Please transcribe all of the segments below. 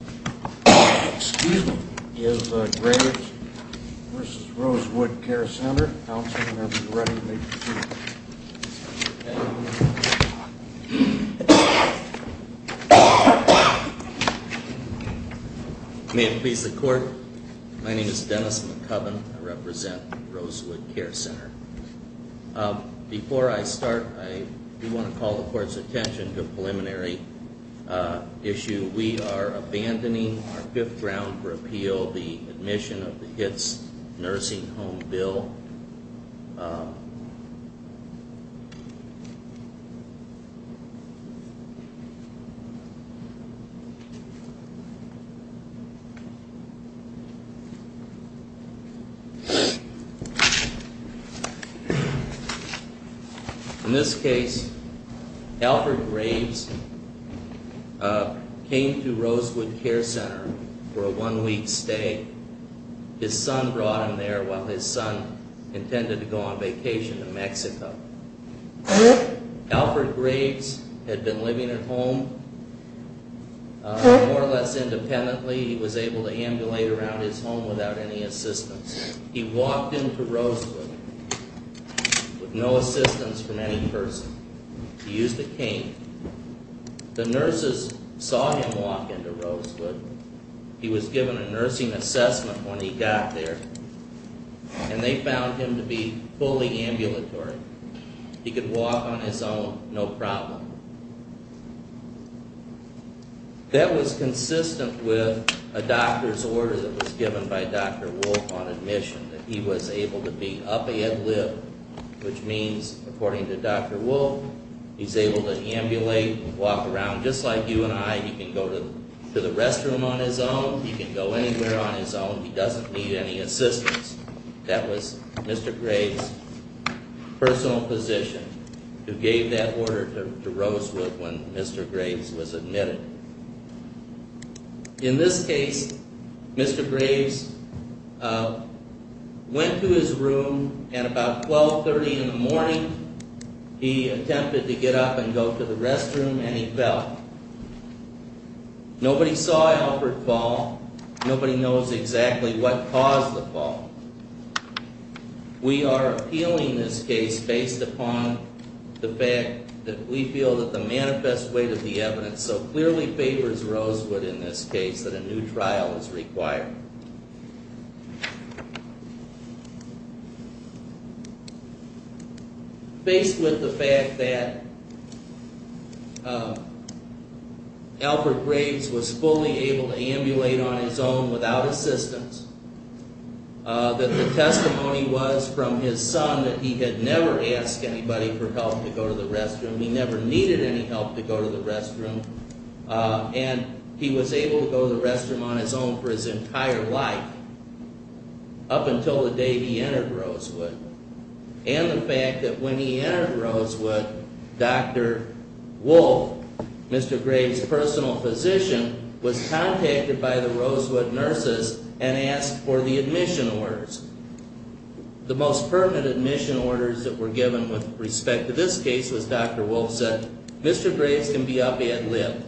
May it please the Court, my name is Dennis McCubbin, I represent Rosewood Care Center. Before I start, I do want to call the Court's attention to a preliminary issue. We are abandoning our fifth round for appeal, the admission of the HITS Nursing Home Bill. In this case, Alfred Graves came to Rosewood Care Center for a one-week stay. His son brought him there while his son intended to go on vacation to Mexico. Alfred Graves had been living at home more or less independently. He was able to ambulate around his home without any assistance. He walked into Rosewood with no assistance from any person. He used a cane. The nurses saw him walk into Rosewood. He was given a nursing assessment when he got there, and they found him to be fully ambulatory. He could walk on his own, no problem. That was consistent with a doctor's order that was given by Dr. Wolfe on admission, that he was able to be up ahead lift, which means, according to Dr. Wolfe, He's able to ambulate, walk around, just like you and I. He can go to the restroom on his own. He can go anywhere on his own. He doesn't need any assistance. That was Mr. Graves' personal position, who gave that order to Rosewood when Mr. Graves was admitted. In this case, Mr. Graves went to his room at about 1230 in the morning. He attempted to get up and go to the restroom, and he fell. Nobody saw Albert fall. Nobody knows exactly what caused the fall. We are appealing this case based upon the fact that we feel that the manifest weight of the evidence so clearly favors Rosewood in this case that a new trial is required. Based with the fact that Albert Graves was fully able to ambulate on his own without assistance, that the testimony was from his son that he had never asked anybody for help to go to the restroom, he never needed any help to go to the restroom, and he was able to go to the restroom on his own for his entire life up until the day he entered Rosewood, and the fact that when he entered Rosewood, Dr. Wolfe, Mr. Graves' personal physician, was contacted by the Rosewood nurses and asked for the admission orders. The most permanent admission orders that were given with respect to this case was Dr. Wolfe said, Mr. Graves can be up ad lib.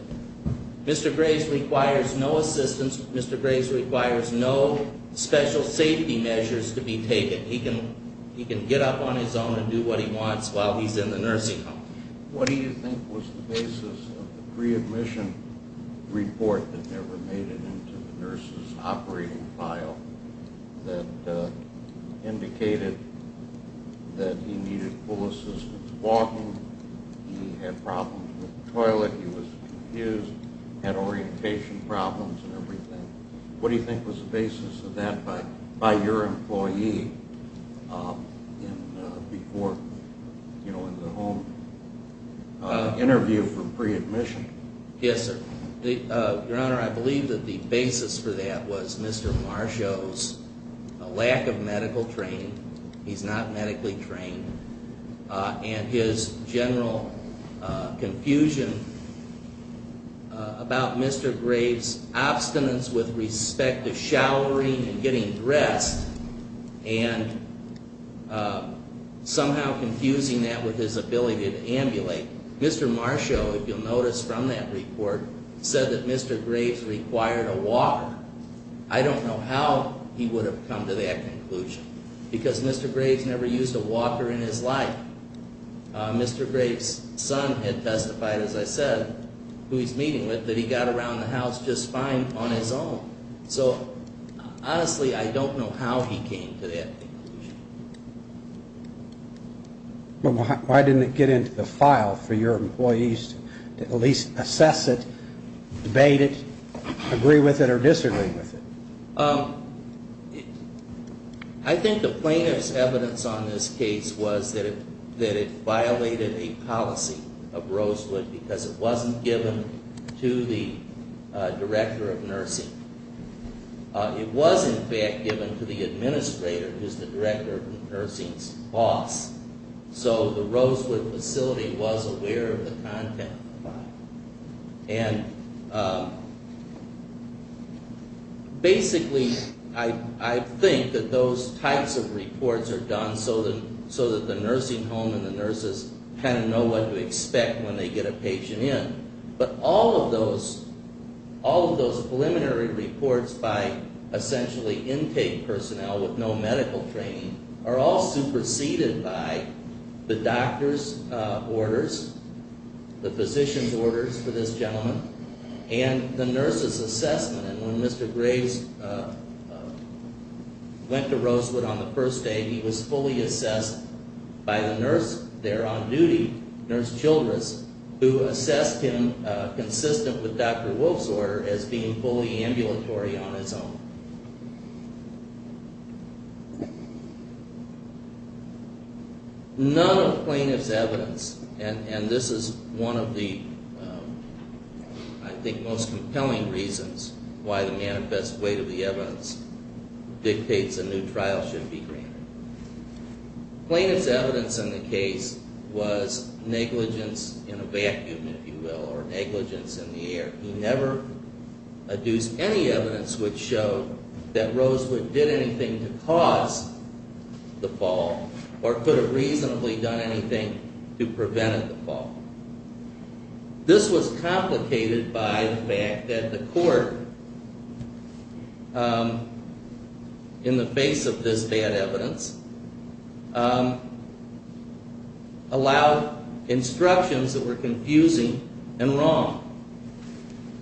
Mr. Graves requires no assistance. Mr. Graves requires no special safety measures to be taken. He can get up on his own and do what he wants while he's in the nursing home. What do you think was the basis of the pre-admission report that never made it into the nurses' operating file that indicated that he needed full assistance walking, he had problems with the toilet, he was confused, had orientation problems and everything? What do you think was the basis of that by your employee before, you know, in the home interview for pre-admission? Yes, sir. Your Honor, I believe that the basis for that was Mr. Marshaw's lack of medical training. He's not medically trained. And his general confusion about Mr. Graves' obstinance with respect to showering and getting dressed and somehow confusing that with his ability to ambulate. Mr. Marshaw, if you'll notice from that report, said that Mr. Graves required a walker. I don't know how he would have come to that conclusion because Mr. Graves never used a walker in his life. Mr. Graves' son had testified, as I said, who he's meeting with, that he got around the house just fine on his own. So honestly, I don't know how he came to that conclusion. Why didn't it get into the file for your employees to at least assess it, debate it, agree with it or disagree with it? I think the plaintiff's evidence on this case was that it violated a policy of Rosewood because it wasn't given to the director of nursing. It was, in fact, given to the administrator, who's the director of the nursing's boss. So the Rosewood facility was aware of the content of the file. And basically, I think that those types of reports are done so that the nursing home and the nurses kind of know what to expect when they get a patient in. But all of those preliminary reports by essentially intake personnel with no medical training are all superseded by the doctor's orders, the physician's orders for this gentleman, and the nurse's assessment. And when Mr. Graves went to Rosewood on the first day, he was fully assessed by the nurse there on duty, Nurse Childress, who assessed him consistent with Dr. Wolf's order as being fully ambulatory on his own. None of the plaintiff's evidence, and this is one of the, I think, most compelling reasons why the manifest weight of the evidence dictates a new trial should be granted. Plaintiff's evidence in the case was negligence in a vacuum, if you will, or negligence in the air. He never adduced any evidence which showed that Rosewood did anything to cause the fall or could have reasonably done anything to prevent the fall. This was complicated by the fact that the court, in the face of this bad evidence, allowed instructions that were confusing and wrong.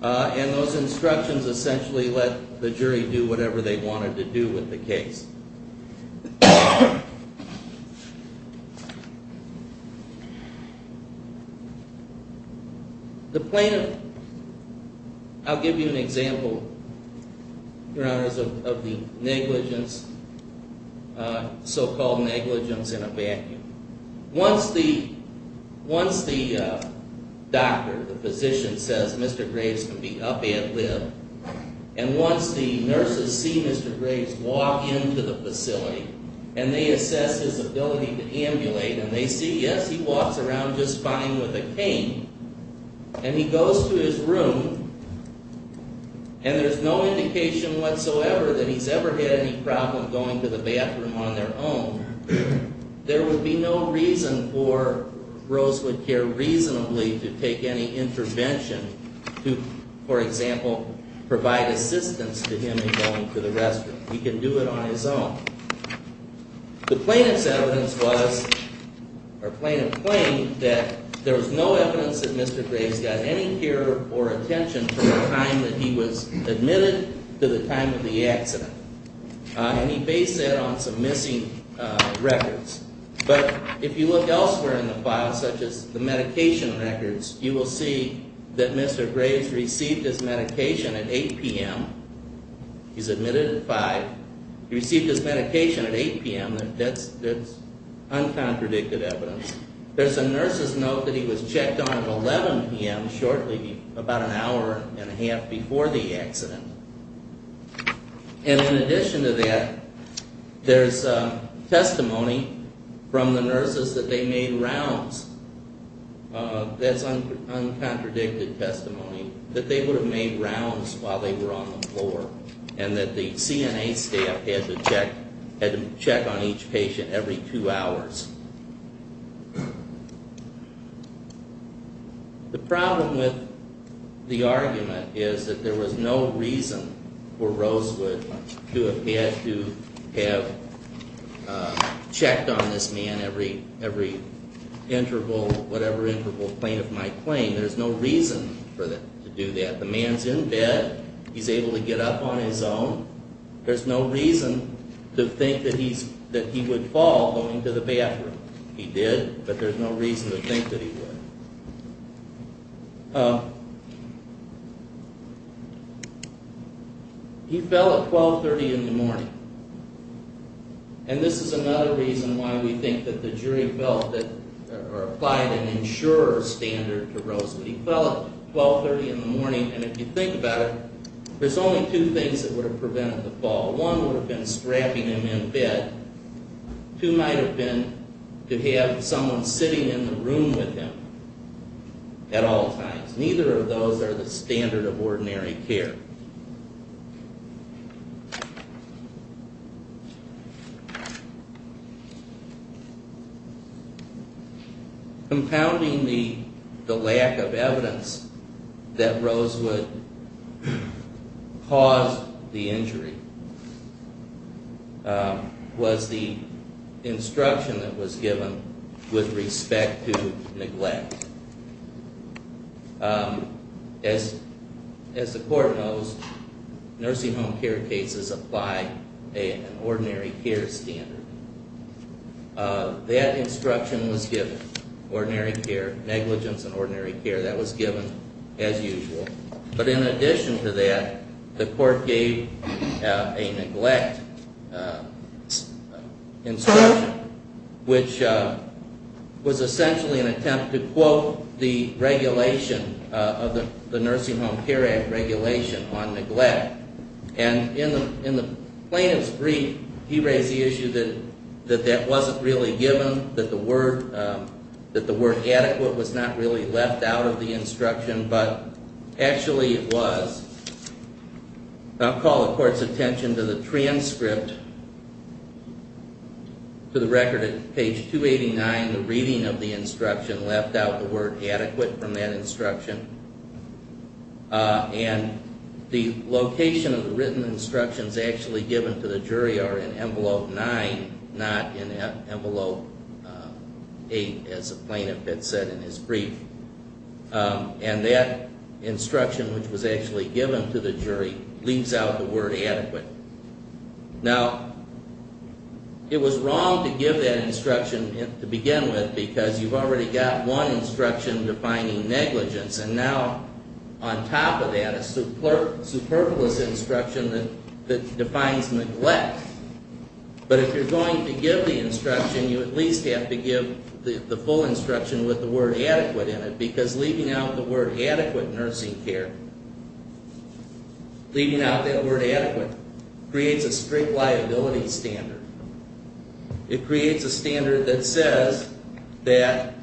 And those instructions essentially let the jury do whatever they wanted to do with the case. The plaintiff, I'll give you an example, Your Honors, of the negligence, so-called negligence in a vacuum. Once the doctor, the physician, says Mr. Graves can be up ad lib, and once the nurses see Mr. Graves walk into the facility, and they assess his ability to ambulate, and they see, yes, he walks around just fine with a cane, and he goes to his room, and there's no indication whatsoever that he's ever had any problem going to the bathroom on their own, there would be no reason for Rosewood Care reasonably to take any intervention to, for example, provide assistance to him in going to the restroom. He can do it on his own. The plaintiff's evidence was, or plaintiff claimed, that there was no evidence that Mr. Graves got any care or attention from the time that he was admitted to the time of the accident. And he based that on some missing records. But if you look elsewhere in the file, such as the medication records, you will see that Mr. Graves received his medication at 8 p.m. He's admitted at 5. He received his medication at 8 p.m., and that's uncontradicted evidence. There's a nurse's note that he was checked on at 11 p.m. shortly, about an hour and a half before the accident. And in addition to that, there's testimony from the nurses that they made rounds. That's uncontradicted testimony, that they would have made rounds while they were on the floor, and that the CNA staff had to check on each patient every two hours. The problem with the argument is that there was no reason for Rosewood to have had to have checked on this man every interval, whatever interval the plaintiff might claim. There's no reason for them to do that. The man's in bed. He's able to get up on his own. There's no reason to think that he would fall going to the bathroom. He did, but there's no reason to think that he would. He fell at 12.30 in the morning. And this is another reason why we think that the jury applied an insurer standard to Rosewood. He fell at 12.30 in the morning, and if you think about it, there's only two things that would have prevented the fall. One would have been strapping him in bed. Two might have been to have someone sitting in the room with him at all times. Neither of those are the standard of ordinary care. Compounding the lack of evidence that Rosewood caused the injury was the instruction that was given with respect to neglect. As the court knows, nursing home care cases apply an ordinary care standard. That instruction was given, ordinary care, negligence in ordinary care, that was given as usual. But in addition to that, the court gave a neglect instruction, which was essentially an attempt to quote the regulation of the Nursing Home Care Act regulation on neglect. And in the plaintiff's brief, he raised the issue that that wasn't really given, that the word adequate was not really left out of the instruction, but actually it was. I'll call the court's attention to the transcript, to the record at page 289, the reading of the instruction left out the word adequate from that instruction. And the location of the written instructions actually given to the jury are in envelope 9, not in envelope 8, as the plaintiff had said in his brief. And that instruction, which was actually given to the jury, leaves out the word adequate. Now, it was wrong to give that instruction to begin with, because you've already got one instruction defining negligence, and now on top of that, a superfluous instruction that defines neglect. But if you're going to give the instruction, you at least have to give the full instruction with the word adequate in it, because leaving out the word adequate nursing care, leaving out that word adequate, creates a strict liability standard. It creates a standard that says that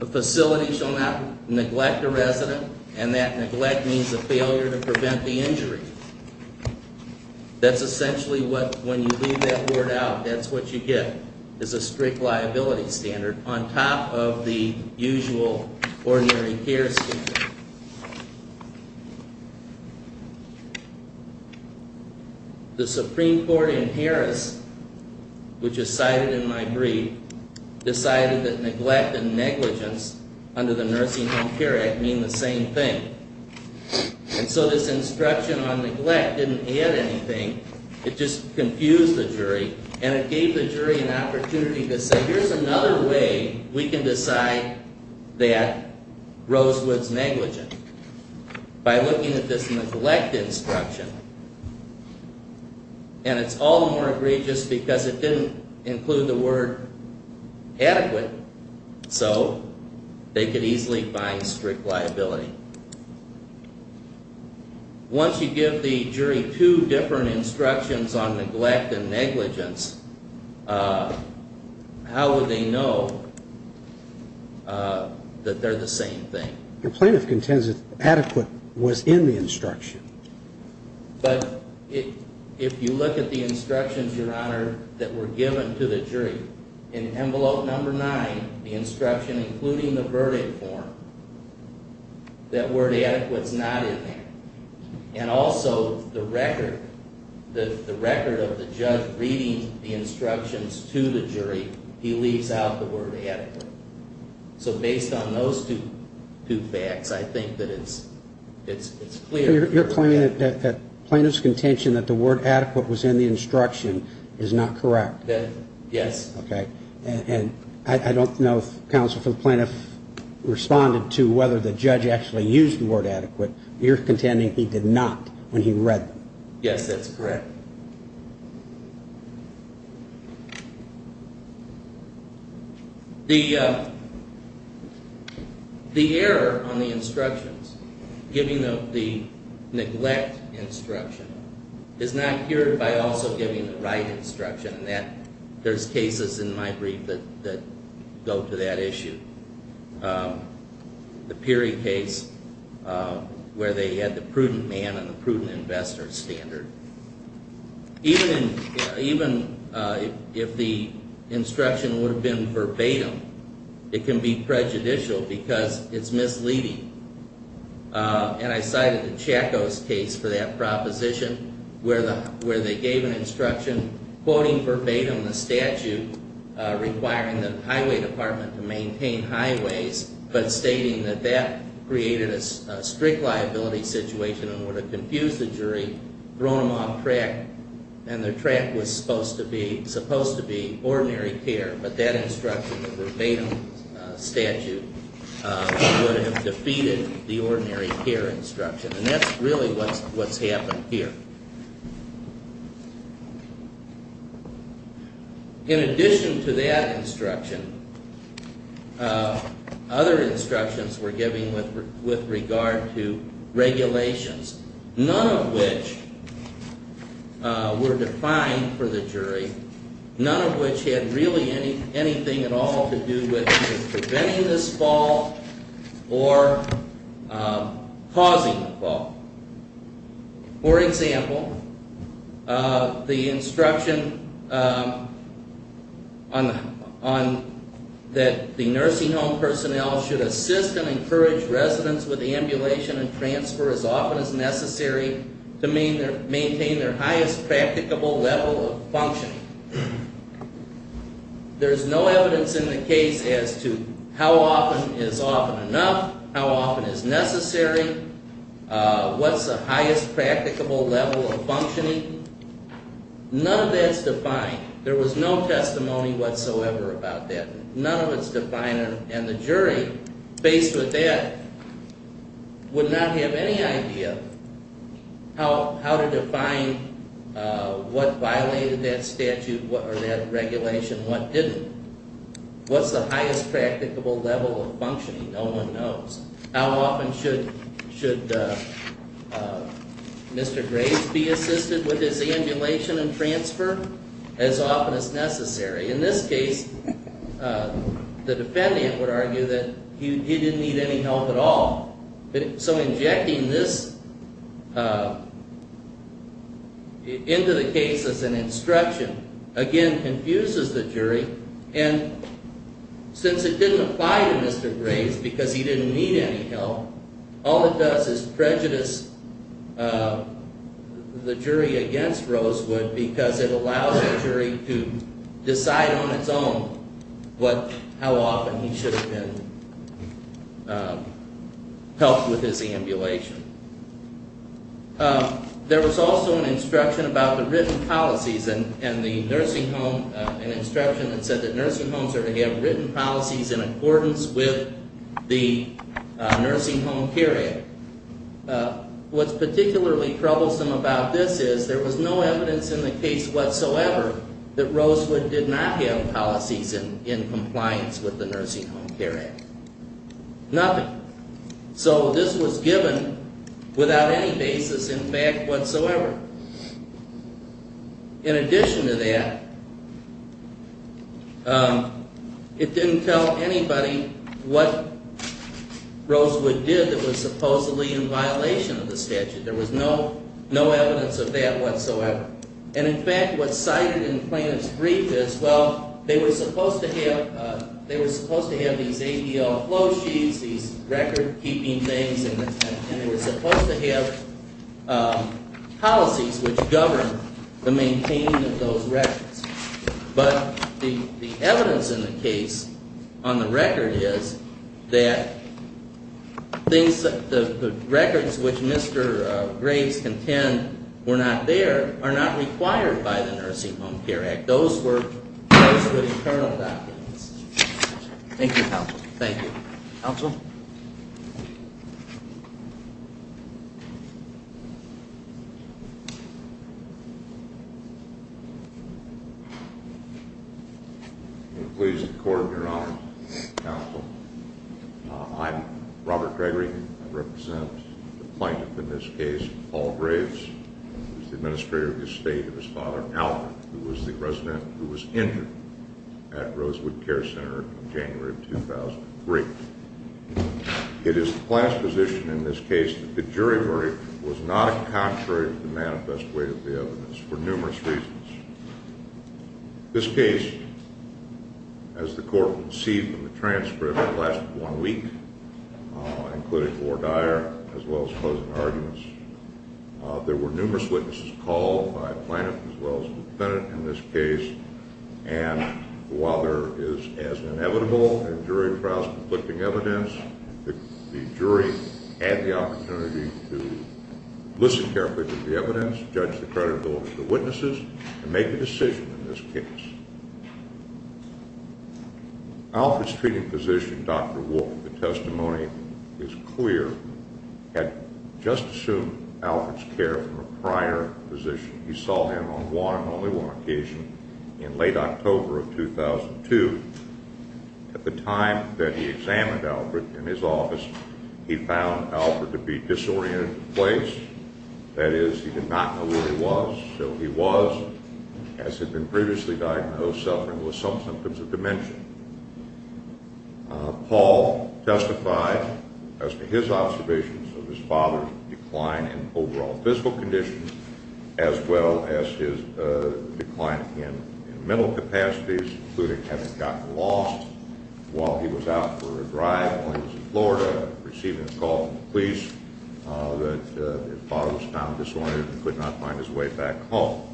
a facility shall not neglect a resident, and that neglect means a failure to prevent the injury. That's essentially what, when you leave that word out, that's what you get, is a strict liability standard on top of the usual ordinary care standard. The Supreme Court in Harris, which is cited in my brief, decided that neglect and negligence under the Nursing Home Care Act mean the same thing. And so this instruction on neglect didn't add anything, it just confused the jury, and it gave the jury an opportunity to say, here's another way we can decide that Rosewood's negligent. By looking at this neglect instruction, and it's all the more egregious because it didn't include the word adequate, so they could easily find strict liability. Once you give the jury two different instructions on neglect and negligence, how would they know that they're the same thing? The plaintiff contends that adequate was in the instruction. But if you look at the instructions, Your Honor, that were given to the jury, in envelope number nine, the instruction including the verdict form, that word adequate's not in there. And also, the record of the judge reading the instructions to the jury, he leaves out the word adequate. So based on those two facts, I think that it's clear. You're claiming that the plaintiff's contention that the word adequate was in the instruction is not correct? Yes. And I don't know if counsel for the plaintiff responded to whether the judge actually used the word adequate. You're contending he did not when he read them. Yes, that's correct. The error on the instructions, giving the neglect instruction, is not cured by also giving the right instruction. And there's cases in my brief that go to that issue. The Peary case, where they had the prudent man and the prudent investor standard. Even if the instruction would have been verbatim, it can be prejudicial because it's misleading. And I cited the Chacos case for that proposition, where they gave an instruction quoting verbatim the statute requiring the highway department to maintain highways, but stating that that created a strict liability situation and would have confused the jury, thrown them off track, and their track was supposed to be ordinary care. But that instruction, the verbatim statute, would have defeated the ordinary care instruction. And that's really what's happened here. In addition to that instruction, other instructions were given with regard to regulations, none of which were defined for the jury, none of which had really anything at all to do with preventing this fault or causing the fault. For example, the instruction that the nursing home personnel should assist and encourage residents with ambulation and transfer as often as necessary to maintain their highest practicable level of functioning. There's no evidence in the case as to how often is often enough, how often is necessary, what's the highest practicable level of functioning. None of that's defined. There was no testimony whatsoever about that. None of it's defined, and the jury, faced with that, would not have any idea how to define what violated that statute or that regulation, what didn't. What's the highest practicable level of functioning? No one knows. How often should Mr. Graves be assisted with his ambulation and transfer? As often as necessary. In this case, the defendant would argue that he didn't need any help at all. So injecting this into the case as an instruction, again, confuses the jury, and since it didn't apply to Mr. Graves because he didn't need any help, all it does is prejudice the jury against Rosewood because it allows the jury to decide on its own how often he should have been helped with his ambulation. There was also an instruction about the written policies, and the nursing home, an instruction that said that nursing homes are to have written policies in accordance with the Nursing Home Care Act. What's particularly troublesome about this is there was no evidence in the case whatsoever that Rosewood did not have policies in compliance with the Nursing Home Care Act. Nothing. So this was given without any basis in fact whatsoever. In addition to that, it didn't tell anybody what Rosewood did that was supposedly in violation of the statute. There was no evidence of that whatsoever. And in fact, what's cited in Plaintiff's brief is, well, they were supposed to have these ADL flow sheets, these record-keeping things, and they were supposed to have policies which governed the maintaining of those records. But the evidence in the case on the record is that the records which Mr. Graves contends were not there are not required by the Nursing Home Care Act. Those were Rosewood's criminal documents. Thank you, Counsel. Thank you. Counsel? I'm pleased to coordinate your honor, Counsel. I'm Robert Gregory. I represent the plaintiff in this case, Paul Graves, who is the administrator of the estate of his father, Alfred, who was the resident who was injured at Rosewood Care Center in January of 2003. It is the plaintiff's position in this case that the jury verdict was not a contrary to the manifest weight of the evidence for numerous reasons. This case, as the court would see from the transcript, lasted one week, including war dire as well as closing arguments. There were numerous witnesses called by the plaintiff as well as the defendant in this case, and while there is as inevitable in jury trials conflicting evidence, the jury had the opportunity to listen carefully to the evidence, judge the credibility of the witnesses, and make a decision in this case. Alfred's treating physician, Dr. Wolfe, the testimony is clear, had just assumed Alfred's care from a prior position. He saw him on one and only one occasion in late October of 2002. At the time that he examined Alfred in his office, he found Alfred to be disoriented in place. That is, he did not know where he was, so he was, as had been previously diagnosed, suffering with some symptoms of dementia. Paul testified as to his observations of his father's decline in overall physical condition as well as his decline in mental capacities, including having gotten lost while he was out for a drive while he was in Florida, receiving a call from the police that his father was found disoriented and could not find his way back home.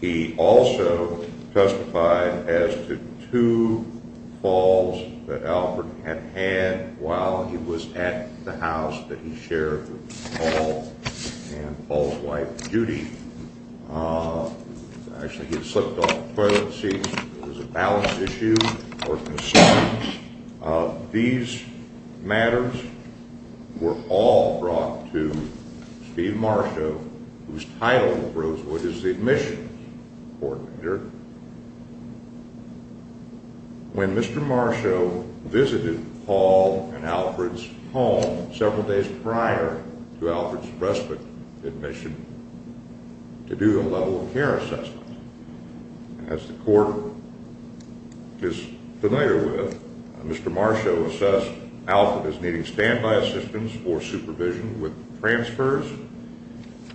He also testified as to two falls that Alfred had had while he was at the house that he shared with Paul and Paul's wife, Judy. Actually, he had slipped off the toilet seat. There was a balance issue or concern. These matters were all brought to Steve Marsho, whose title at Rosewood is the admissions coordinator, when Mr. Marsho visited Paul and Alfred's home several days prior to Alfred's respite admission to do a level of care assessment. As the court is familiar with, Mr. Marsho assessed Alfred as needing standby assistance for supervision with transfers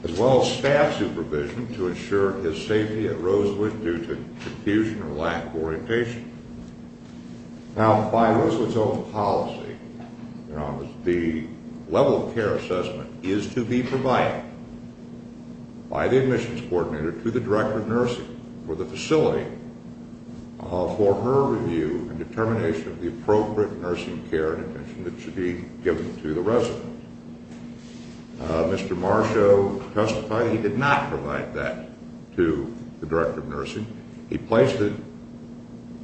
as well as staff supervision to ensure his safety at Rosewood due to confusion or lack of orientation. Now, by Rosewood's own policy, the level of care assessment is to be provided by the admissions coordinator to the director of nursing for the facility for her review and determination of the appropriate nursing care and attention that should be given to the resident. Mr. Marsho testified that he did not provide that to the director of nursing. He placed it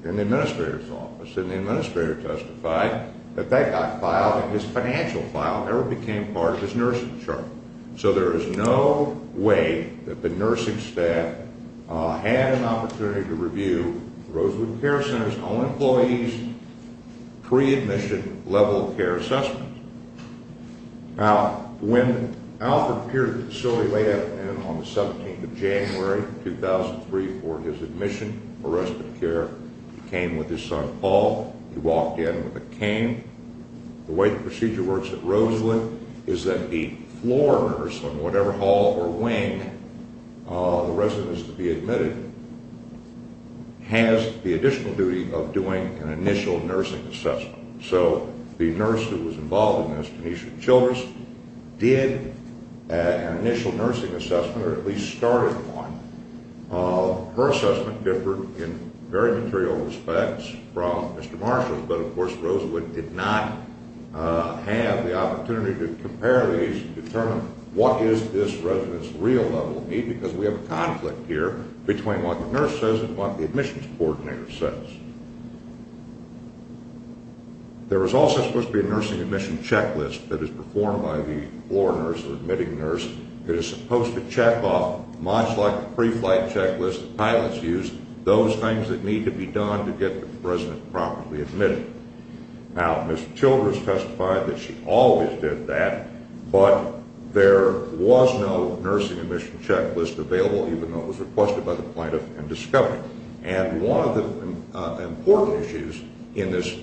in the administrator's office, and the administrator testified that that got filed, and his financial file never became part of his nursing chart. So there is no way that the nursing staff had an opportunity to review Rosewood Care Center's own employees' pre-admission level of care assessment. Now, when Alfred appeared at the facility late afternoon on the 17th of January, 2003, for his admission for respite care, he came with his son, Paul. He walked in with a cane. The way the procedure works at Rosewood is that the floor nurse on whatever hall or wing the resident is to be admitted has the additional duty of doing an initial nursing assessment. So the nurse who was involved in this, Tanisha Childress, did an initial nursing assessment or at least started one. Her assessment differed in very material respects from Mr. Marsho's, but of course Rosewood did not have the opportunity to compare these and determine what is this resident's real level of need There was also supposed to be a nursing admission checklist that is performed by the floor nurse or admitting nurse that is supposed to check off, much like the pre-flight checklist that pilots use, those things that need to be done to get the resident properly admitted. Now, Ms. Childress testified that she always did that, but there was no nursing admission checklist available, even though it was requested by the plaintiff and discovered. And one of the important issues in this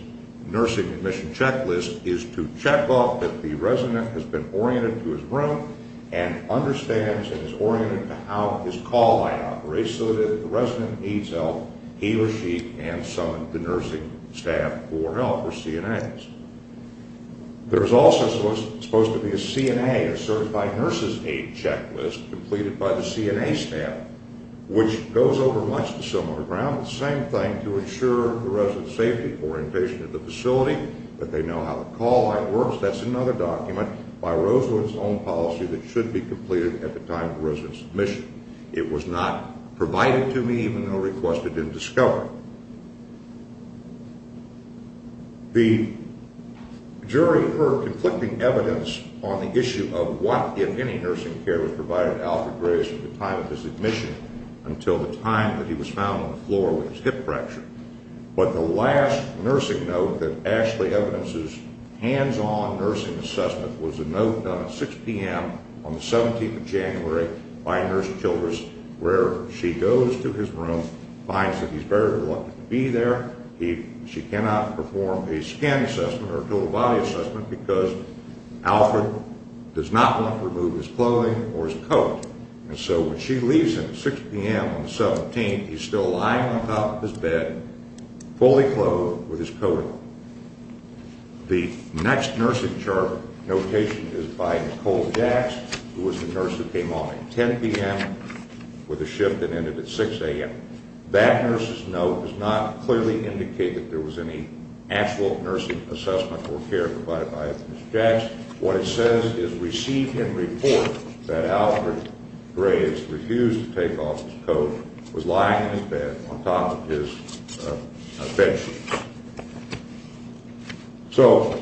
nursing admission checklist is to check off that the resident has been oriented to his room and understands and is oriented to how his call line operates so that if the resident needs help, he or she can summon the nursing staff for help or CNAs. There is also supposed to be a CNA, a certified nurse's aid checklist completed by the CNA staff, which goes over much the similar ground. The same thing to ensure the resident's safety, orientation of the facility, that they know how the call line works. That's another document by Rosewood's own policy that should be completed at the time of the resident's admission. It was not provided to me, even though requested and discovered. The jury heard conflicting evidence on the issue of what, if any, nursing care was provided to Alfred Grace at the time of his admission until the time that he was found on the floor with his hip fracture. But the last nursing note that actually evidences hands-on nursing assessment was a note done at 6 p.m. on the 17th of January by Nurse Childress where she goes to his room, finds that he's very reluctant to be there. She cannot perform a scan assessment or a total body assessment because Alfred does not want to remove his clothing or his coat. And so when she leaves him at 6 p.m. on the 17th, he's still lying on top of his bed, fully clothed with his coat on. The next nursing chart notation is by Nicole Jax, who was the nurse who came on at 10 p.m. with a shift and ended at 6 a.m. That nurse's note does not clearly indicate that there was any actual nursing assessment or care provided by Ms. Jax. What it says is receive him report that Alfred Grace refused to take off his coat, was lying in his bed on top of his bedsheet. So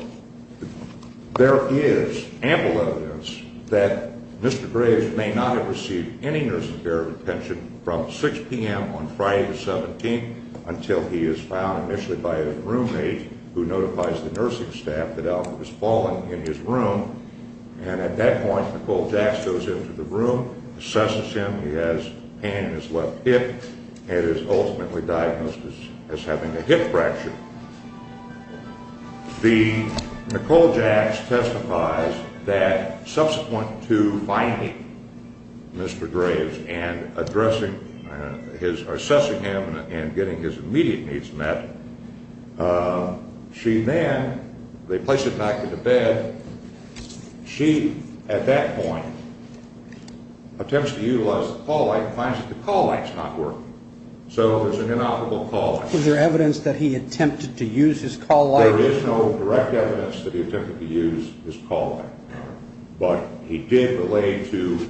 there is ample evidence that Mr. Grace may not have received any nursing care retention from 6 p.m. on Friday the 17th until he is found initially by a roommate who notifies the nursing staff that Alfred has fallen in his room. And at that point, Nicole Jax goes into the room, assesses him. He has pain in his left hip and is ultimately diagnosed as having a hip fracture. Nicole Jax testifies that subsequent to finding Mr. Grace and assessing him and getting his immediate needs met, she then, they place him back into bed. She, at that point, attempts to utilize the call light and finds that the call light's not working. So there's an inoperable call light. Was there evidence that he attempted to use his call light? There is no direct evidence that he attempted to use his call light. But he did relay to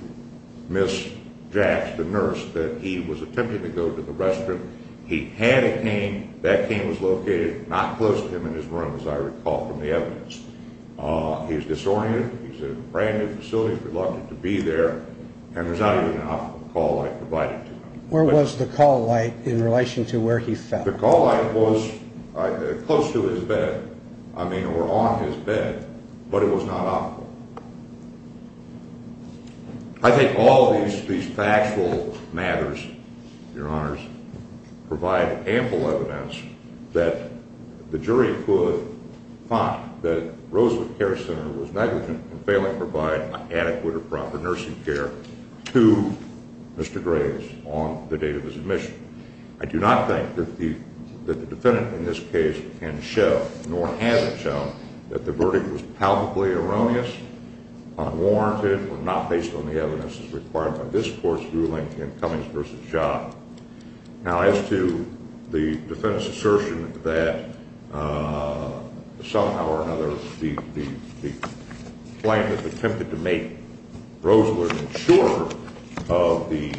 Ms. Jax, the nurse, that he was attempting to go to the restroom. He had a cane. That cane was located not close to him in his room, as I recall from the evidence. He's disoriented. He's in a brand-new facility. He's reluctant to be there. And there's not even an optimal call light provided to him. Where was the call light in relation to where he fell? The call light was close to his bed, I mean, or on his bed, but it was not optimal. I think all of these factual matters, Your Honors, provide ample evidence that the jury could find that I do not think that the defendant in this case can show, nor has it shown, that the verdict was palpably erroneous, unwarranted, or not based on the evidence as required by this Court's ruling in Cummings v. Shaw. Now, as to the defendant's assertion that somehow or another the plaintiff attempted to make Rosler insurer of the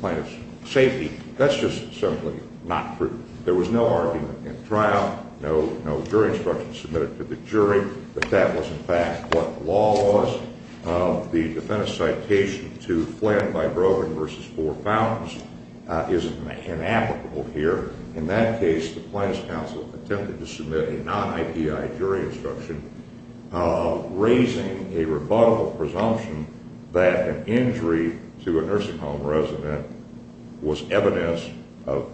plaintiff's safety, that's just simply not true. There was no argument in the trial, no jury instruction submitted to the jury that that was, in fact, what the law was. The defendant's citation to Flynn v. Brogan v. Four Fountains is inapplicable here. In that case, the plaintiff's counsel attempted to submit a non-IPI jury instruction, raising a rebuttable presumption that an injury to a nursing home resident was evidence of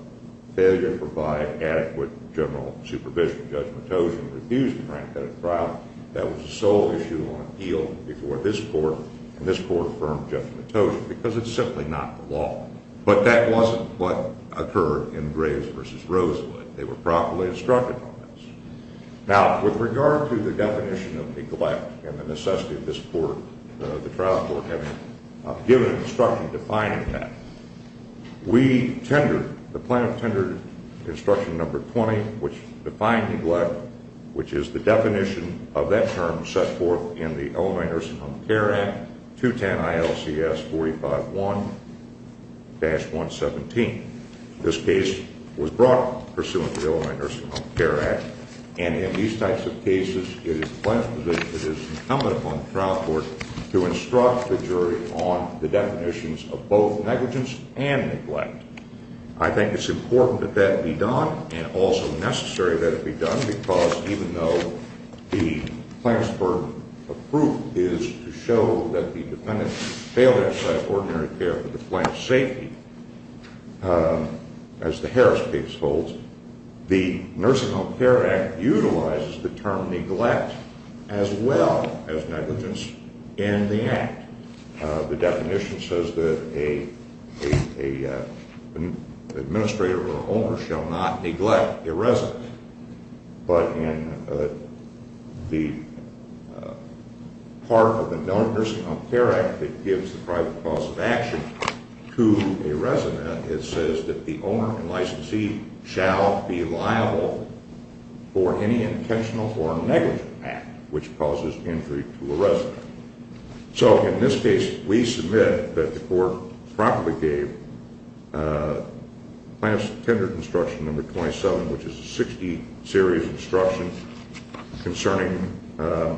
failure to provide adequate general supervision. Judge Matosian refused to grant that trial. That was the sole issue on appeal before this Court, and this Court affirmed Judge Matosian, because it's simply not the law. But that wasn't what occurred in Graves v. Rosler. They were properly instructed on this. Now, with regard to the definition of neglect and the necessity of this Court, the trial court, having given instruction defining that, we tendered, the plaintiff tendered instruction number 20, which defined neglect, which is the definition of that term set forth in the Illinois Nursing Home Care Act, 210-ILCS45-1-117. This case was brought pursuant to the Illinois Nursing Home Care Act, and in these types of cases, it is incumbent upon the trial court to instruct the jury on the definitions of both negligence and neglect. I think it's important that that be done, and also necessary that it be done, because even though the plaintiff's burden of proof is to show that the defendant failed to provide ordinary care for the plaintiff's safety, as the Harris case holds, the Nursing Home Care Act utilizes the term neglect as well as negligence in the act. The definition says that an administrator or an owner shall not neglect a resident. But in the part of the Illinois Nursing Home Care Act that gives the private clause of action to a resident, it says that the owner and licensee shall be liable for any intentional or negligent act which causes injury to a resident. So in this case, we submit that the court promptly gave Plaintiff's Tender Construction No. 27, which is a 60-series instruction concerning the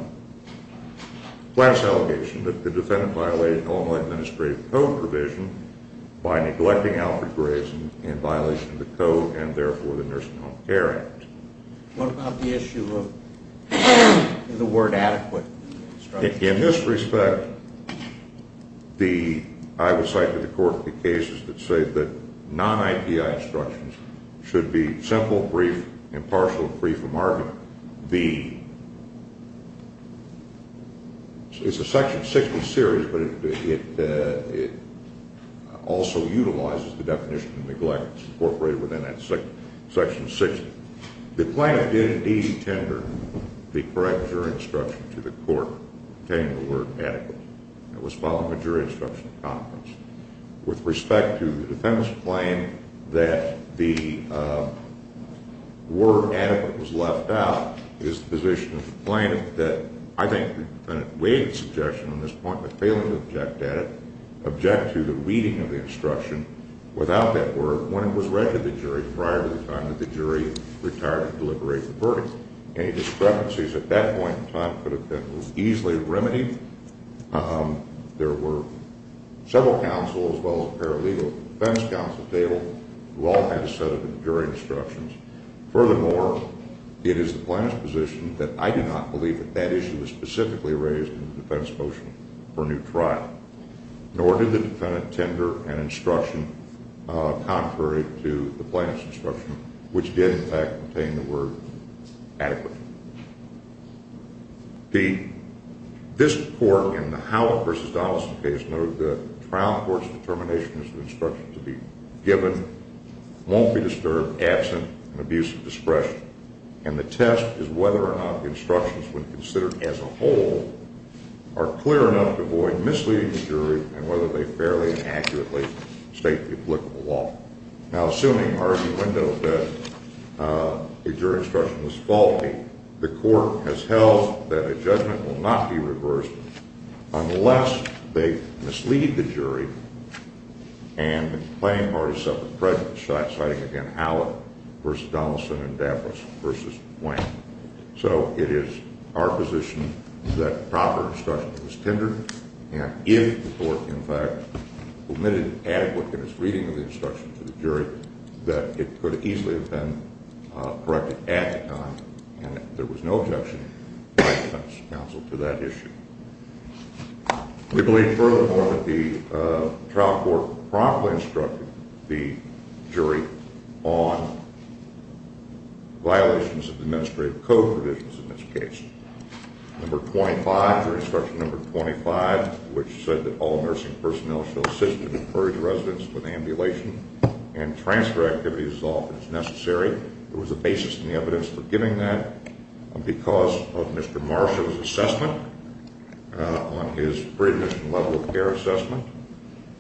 plaintiff's allegation that the defendant violated Illinois Administrative Code provision by neglecting Alfred Grayson in violation of the code, and therefore, the Nursing Home Care Act. What about the issue of the word adequate? In this respect, I would cite to the court the cases that say that non-IPI instructions should be simple, brief, impartial, and free from argument. It's a section 60 series, but it also utilizes the definition of neglect incorporated within that section 60. The plaintiff did indeed tender the correct jury instruction to the court pertaining to the word adequate. It was following a jury instruction of confidence. With respect to the defendant's claim that the word adequate was left out, it is the position of the plaintiff that I think the defendant waived the suggestion on this point, but failing to object to the reading of the instruction without that word, when it was read to the jury prior to the time that the jury retired to deliberate the verdict. Any discrepancies at that point in time could have been easily remedied. There were several counsels, as well as a pair of legal defense counsels, who all had a set of jury instructions. Furthermore, it is the plaintiff's position that I do not believe that that issue was specifically raised in the defense motion for a new trial, nor did the defendant tender an instruction contrary to the plaintiff's instruction, which did, in fact, pertain to the word adequate. This court, in the Howlett v. Donaldson case, noted that the trial court's determination is an instruction to be given, won't be disturbed, absent an abuse of discretion, and the test is whether or not the instructions, when considered as a whole, are clear enough to avoid misleading the jury, and whether they fairly and accurately state the applicable law. Now, assuming argumentative that the jury instruction was faulty, the court has held that a judgment will not be reversed unless they mislead the jury and claim part of separate prejudice, citing again Howlett v. Donaldson and Davros v. Wayne. So it is our position that proper instruction was tendered, and if the court, in fact, omitted adequate and misleading instruction to the jury, that it could easily have been corrected at the time, and there was no objection by defense counsel to that issue. We believe, furthermore, that the trial court promptly instructed the jury on violations of administrative code provisions in this case. Number 25, jury instruction number 25, which said that all nursing personnel shall assist and encourage residents with ambulation and transfer activities as often as necessary. There was a basis in the evidence for giving that because of Mr. Marshall's assessment on his pre-admission level of care assessment,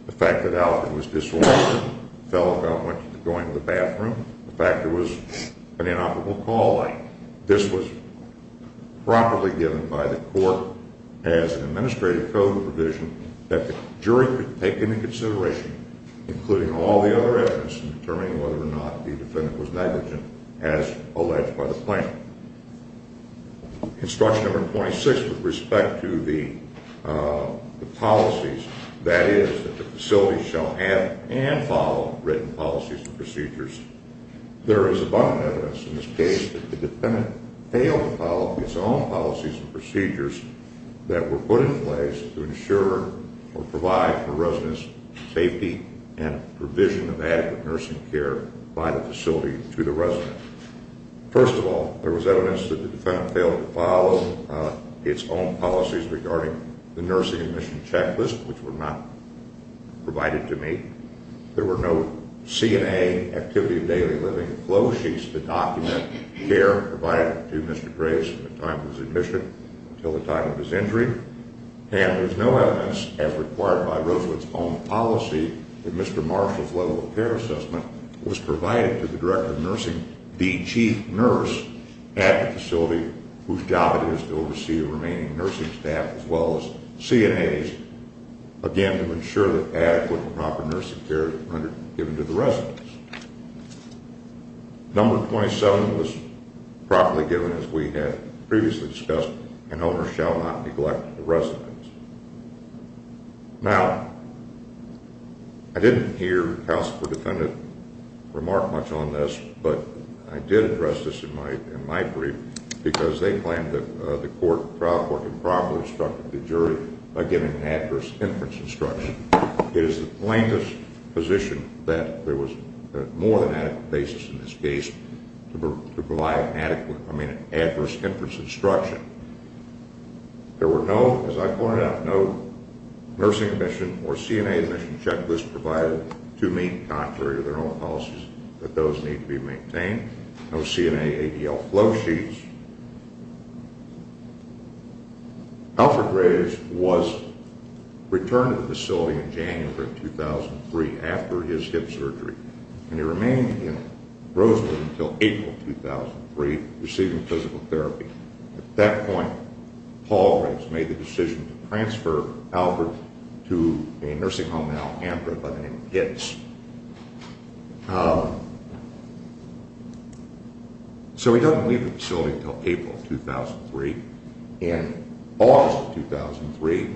the fact that Alvin was disoriented, fell about going to the bathroom, the fact there was an inoperable call light. This was properly given by the court as an administrative code provision that the jury could take into consideration, including all the other evidence, in determining whether or not the defendant was negligent as alleged by the plaintiff. Instruction number 26, with respect to the policies, that is that the facility shall have and follow written policies and procedures. There is abundant evidence in this case that the defendant failed to follow his own policies and procedures that were put in place to ensure or provide for residents' safety and provision of adequate nursing care by the facility to the residents. First of all, there was evidence that the defendant failed to follow its own policies regarding the nursing admission checklist, which were not provided to me. There were no CNA activity of daily living flow sheets to document care provided to Mr. Graves from the time of his admission until the time of his injury. And there's no evidence, as required by Roosevelt's own policy, that Mr. Marshall's level of care assessment was provided to the director of nursing, the chief nurse, at the facility whose job it is to oversee the remaining nursing staff as well as CNAs, again, to ensure that adequate and proper nursing care is given to the residents. Number 27 was properly given, as we had previously discussed, and owners shall not neglect the residents. Now, I didn't hear the counsel for the defendant remark much on this, but I did address this in my brief because they claimed that the trial court improperly instructed the jury by giving adverse inference instruction. It is the plaintiff's position that there was more than adequate basis in this case to provide adequate, I mean, adverse inference instruction. There were no, as I pointed out, no nursing admission or CNA admission checklist provided to me, contrary to their own policies, that those need to be maintained. No CNA ADL flow sheets. Alfred Graves was returned to the facility in January of 2003 after his hip surgery, and he remained in Roseland until April of 2003, receiving physical therapy. At that point, Paul Graves made the decision to transfer Alfred to a nursing home in Alhambra by the name of Hitz. So he doesn't leave the facility until April of 2003. In August of 2003,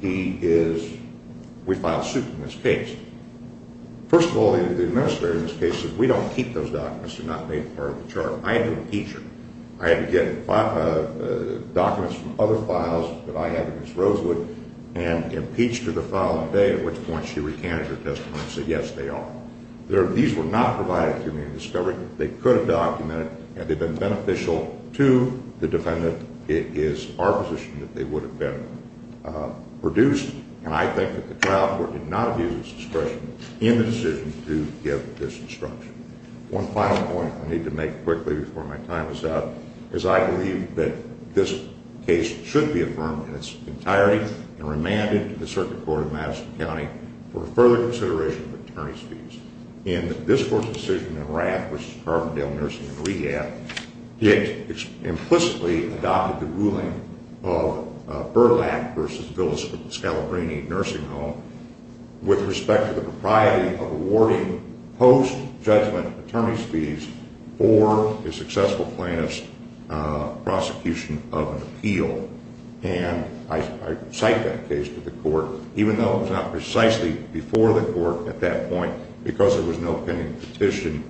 he is, we filed suit in this case. First of all, the administrator of this case said, we don't keep those documents. They're not made part of the charge. I had to impeach her. I had to get documents from other files that I had against Rosewood and impeach her the following day, at which point she recanted her testimony and said, yes, they are. These were not provided to me in discovery. They could have documented, and they've been beneficial to the defendant. It is our position that they would have been produced, and I think that the trial court did not abuse its discretion in the decision to give this instruction. One final point I need to make quickly before my time is up is I believe that this case should be affirmed in its entirety and remanded to the Circuit Court of Madison County for further consideration of attorney's fees. In this court's decision in Rath v. Carbondale Nursing and Rehab, it implicitly adopted the ruling of Burlap v. Villa Scalabrini Nursing Home with respect to the propriety of awarding post-judgment attorney's fees for a successful plaintiff's prosecution of an appeal. And I cite that case to the court. Even though it was not precisely before the court at that point, because there was no pending petition,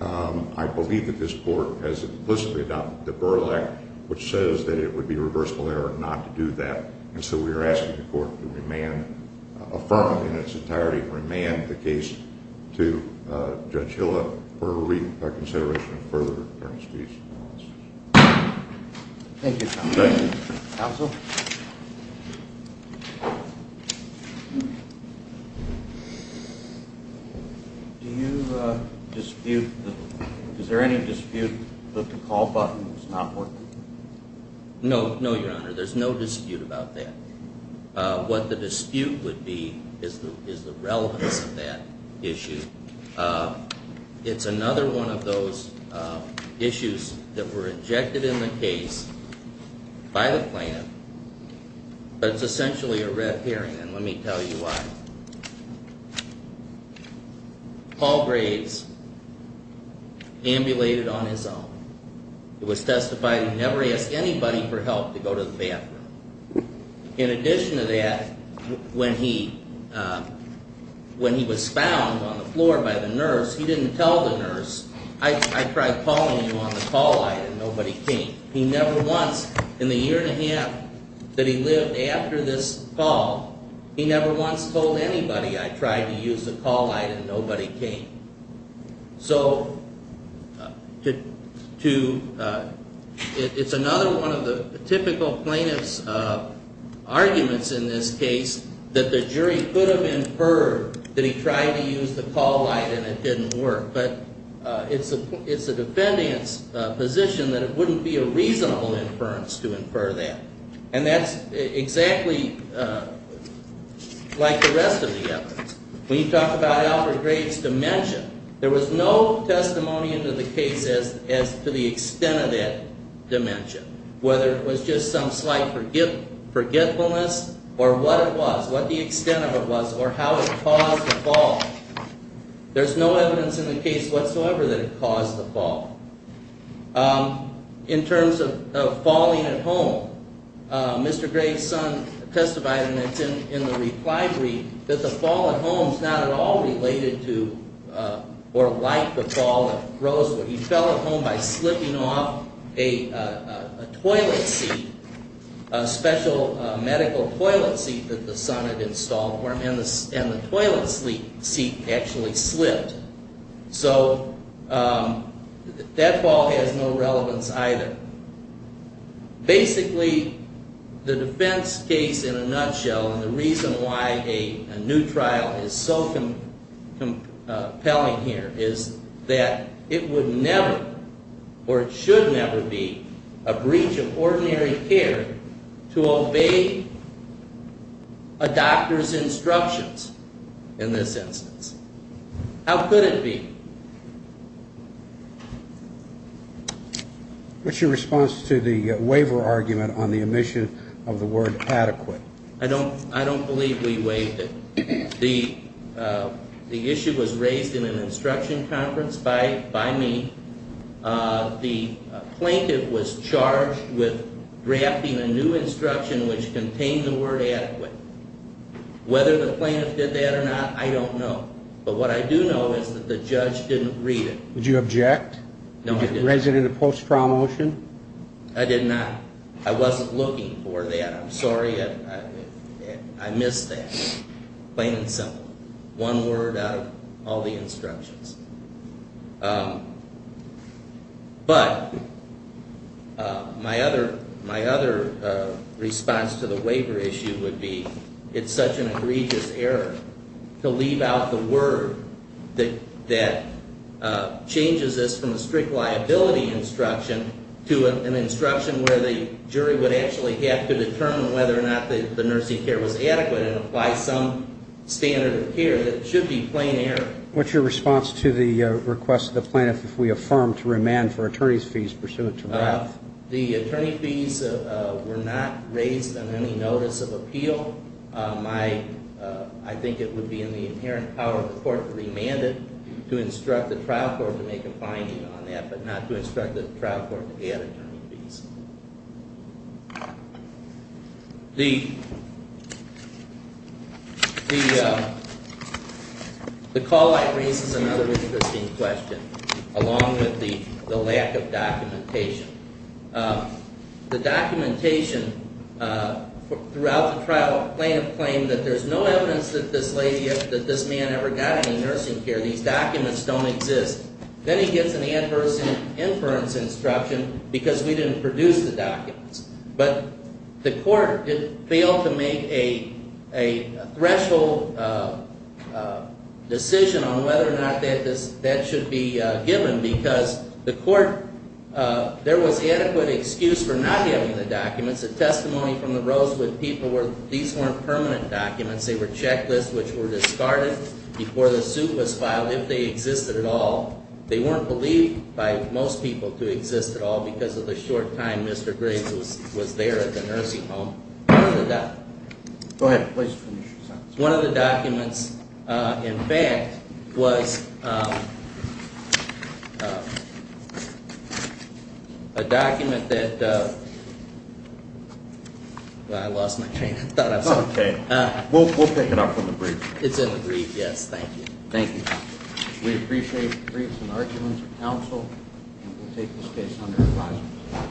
I believe that this court has implicitly adopted the Burlap, which says that it would be reversible error not to do that. And so we are asking the court to affirm in its entirety and remand the case to Judge Hill for reconsideration of further attorney's fees. Thank you, counsel. Counsel? Do you dispute, is there any dispute that the call button is not working? No, no, your honor. There's no dispute about that. What the dispute would be is the relevance of that issue. It's another one of those issues that were injected in the case by the plaintiff. It's essentially a red herring, and let me tell you why. Paul Graves ambulated on his own. It was testified he never asked anybody for help to go to the bathroom. In addition to that, when he was found on the floor by the nurse, he didn't tell the nurse, I tried calling you on the call line and nobody came. He never once, in the year and a half that he lived after this call, he never once told anybody I tried to use the call line and nobody came. It's another one of the typical plaintiff's arguments in this case that the jury could have inferred that he tried to use the call line and it didn't work. But it's the defendant's position that it wouldn't be a reasonable inference to infer that. And that's exactly like the rest of the evidence. When you talk about Alfred Graves' dimension, there was no testimony into the case as to the extent of that dimension, whether it was just some slight forgetfulness or what it was, what the extent of it was, or how it caused the fall. There's no evidence in the case whatsoever that it caused the fall. In terms of falling at home, Mr. Graves' son testified, and it's in the reply brief, that the fall at home is not at all related to or like the fall at Rosewood. He fell at home by slipping off a toilet seat, a special medical toilet seat that the son had installed for him, and the toilet seat actually slipped. So that fall has no relevance either. Basically, the defense case in a nutshell and the reason why a new trial is so compelling here is that it would never or it should never be a breach of ordinary care to obey a doctor's instructions in this instance. How could it be? What's your response to the waiver argument on the omission of the word adequate? I don't believe we waived it. The issue was raised in an instruction conference by me. The plaintiff was charged with drafting a new instruction which contained the word adequate. Whether the plaintiff did that or not, I don't know. But what I do know is that the judge didn't read it. Did you object? No, I didn't. Did you raise it in a post-trial motion? I did not. I wasn't looking for that. I'm sorry I missed that, plain and simple. One word out of all the instructions. But my other response to the waiver issue would be it's such an egregious error to leave out the word that changes this from a strict liability instruction to an instruction where the jury would actually have to determine whether or not the nursing care was adequate and apply some standard of care. That should be plain error. What's your response to the request of the plaintiff if we affirm to remand for attorney's fees pursuant to wrath? The attorney fees were not raised on any notice of appeal. I think it would be in the inherent power of the court to remand it, to instruct the trial court to make a finding on that, but not to instruct the trial court to add attorney fees. The call-out raises another interesting question, along with the lack of documentation. The documentation throughout the trial, the plaintiff claimed that there's no evidence that this man ever got any nursing care. These documents don't exist. Then he gets an adverse inference instruction because we didn't produce the documents. But the court failed to make a threshold decision on whether or not that should be given because there was adequate excuse for not giving the documents. The testimony from the Rosewood people were these weren't permanent documents. They were checklists which were discarded before the suit was filed if they existed at all. They weren't believed by most people to exist at all because of the short time Mr. Griggs was there at the nursing home. Go ahead. Please finish your sentence. One of the documents, in fact, was a document that – well, I lost my train of thought. It's okay. We'll pick it up from the brief. It's in the brief, yes. Thank you. Thank you. We appreciate the briefs and arguments of counsel, and we'll take this case under advisement.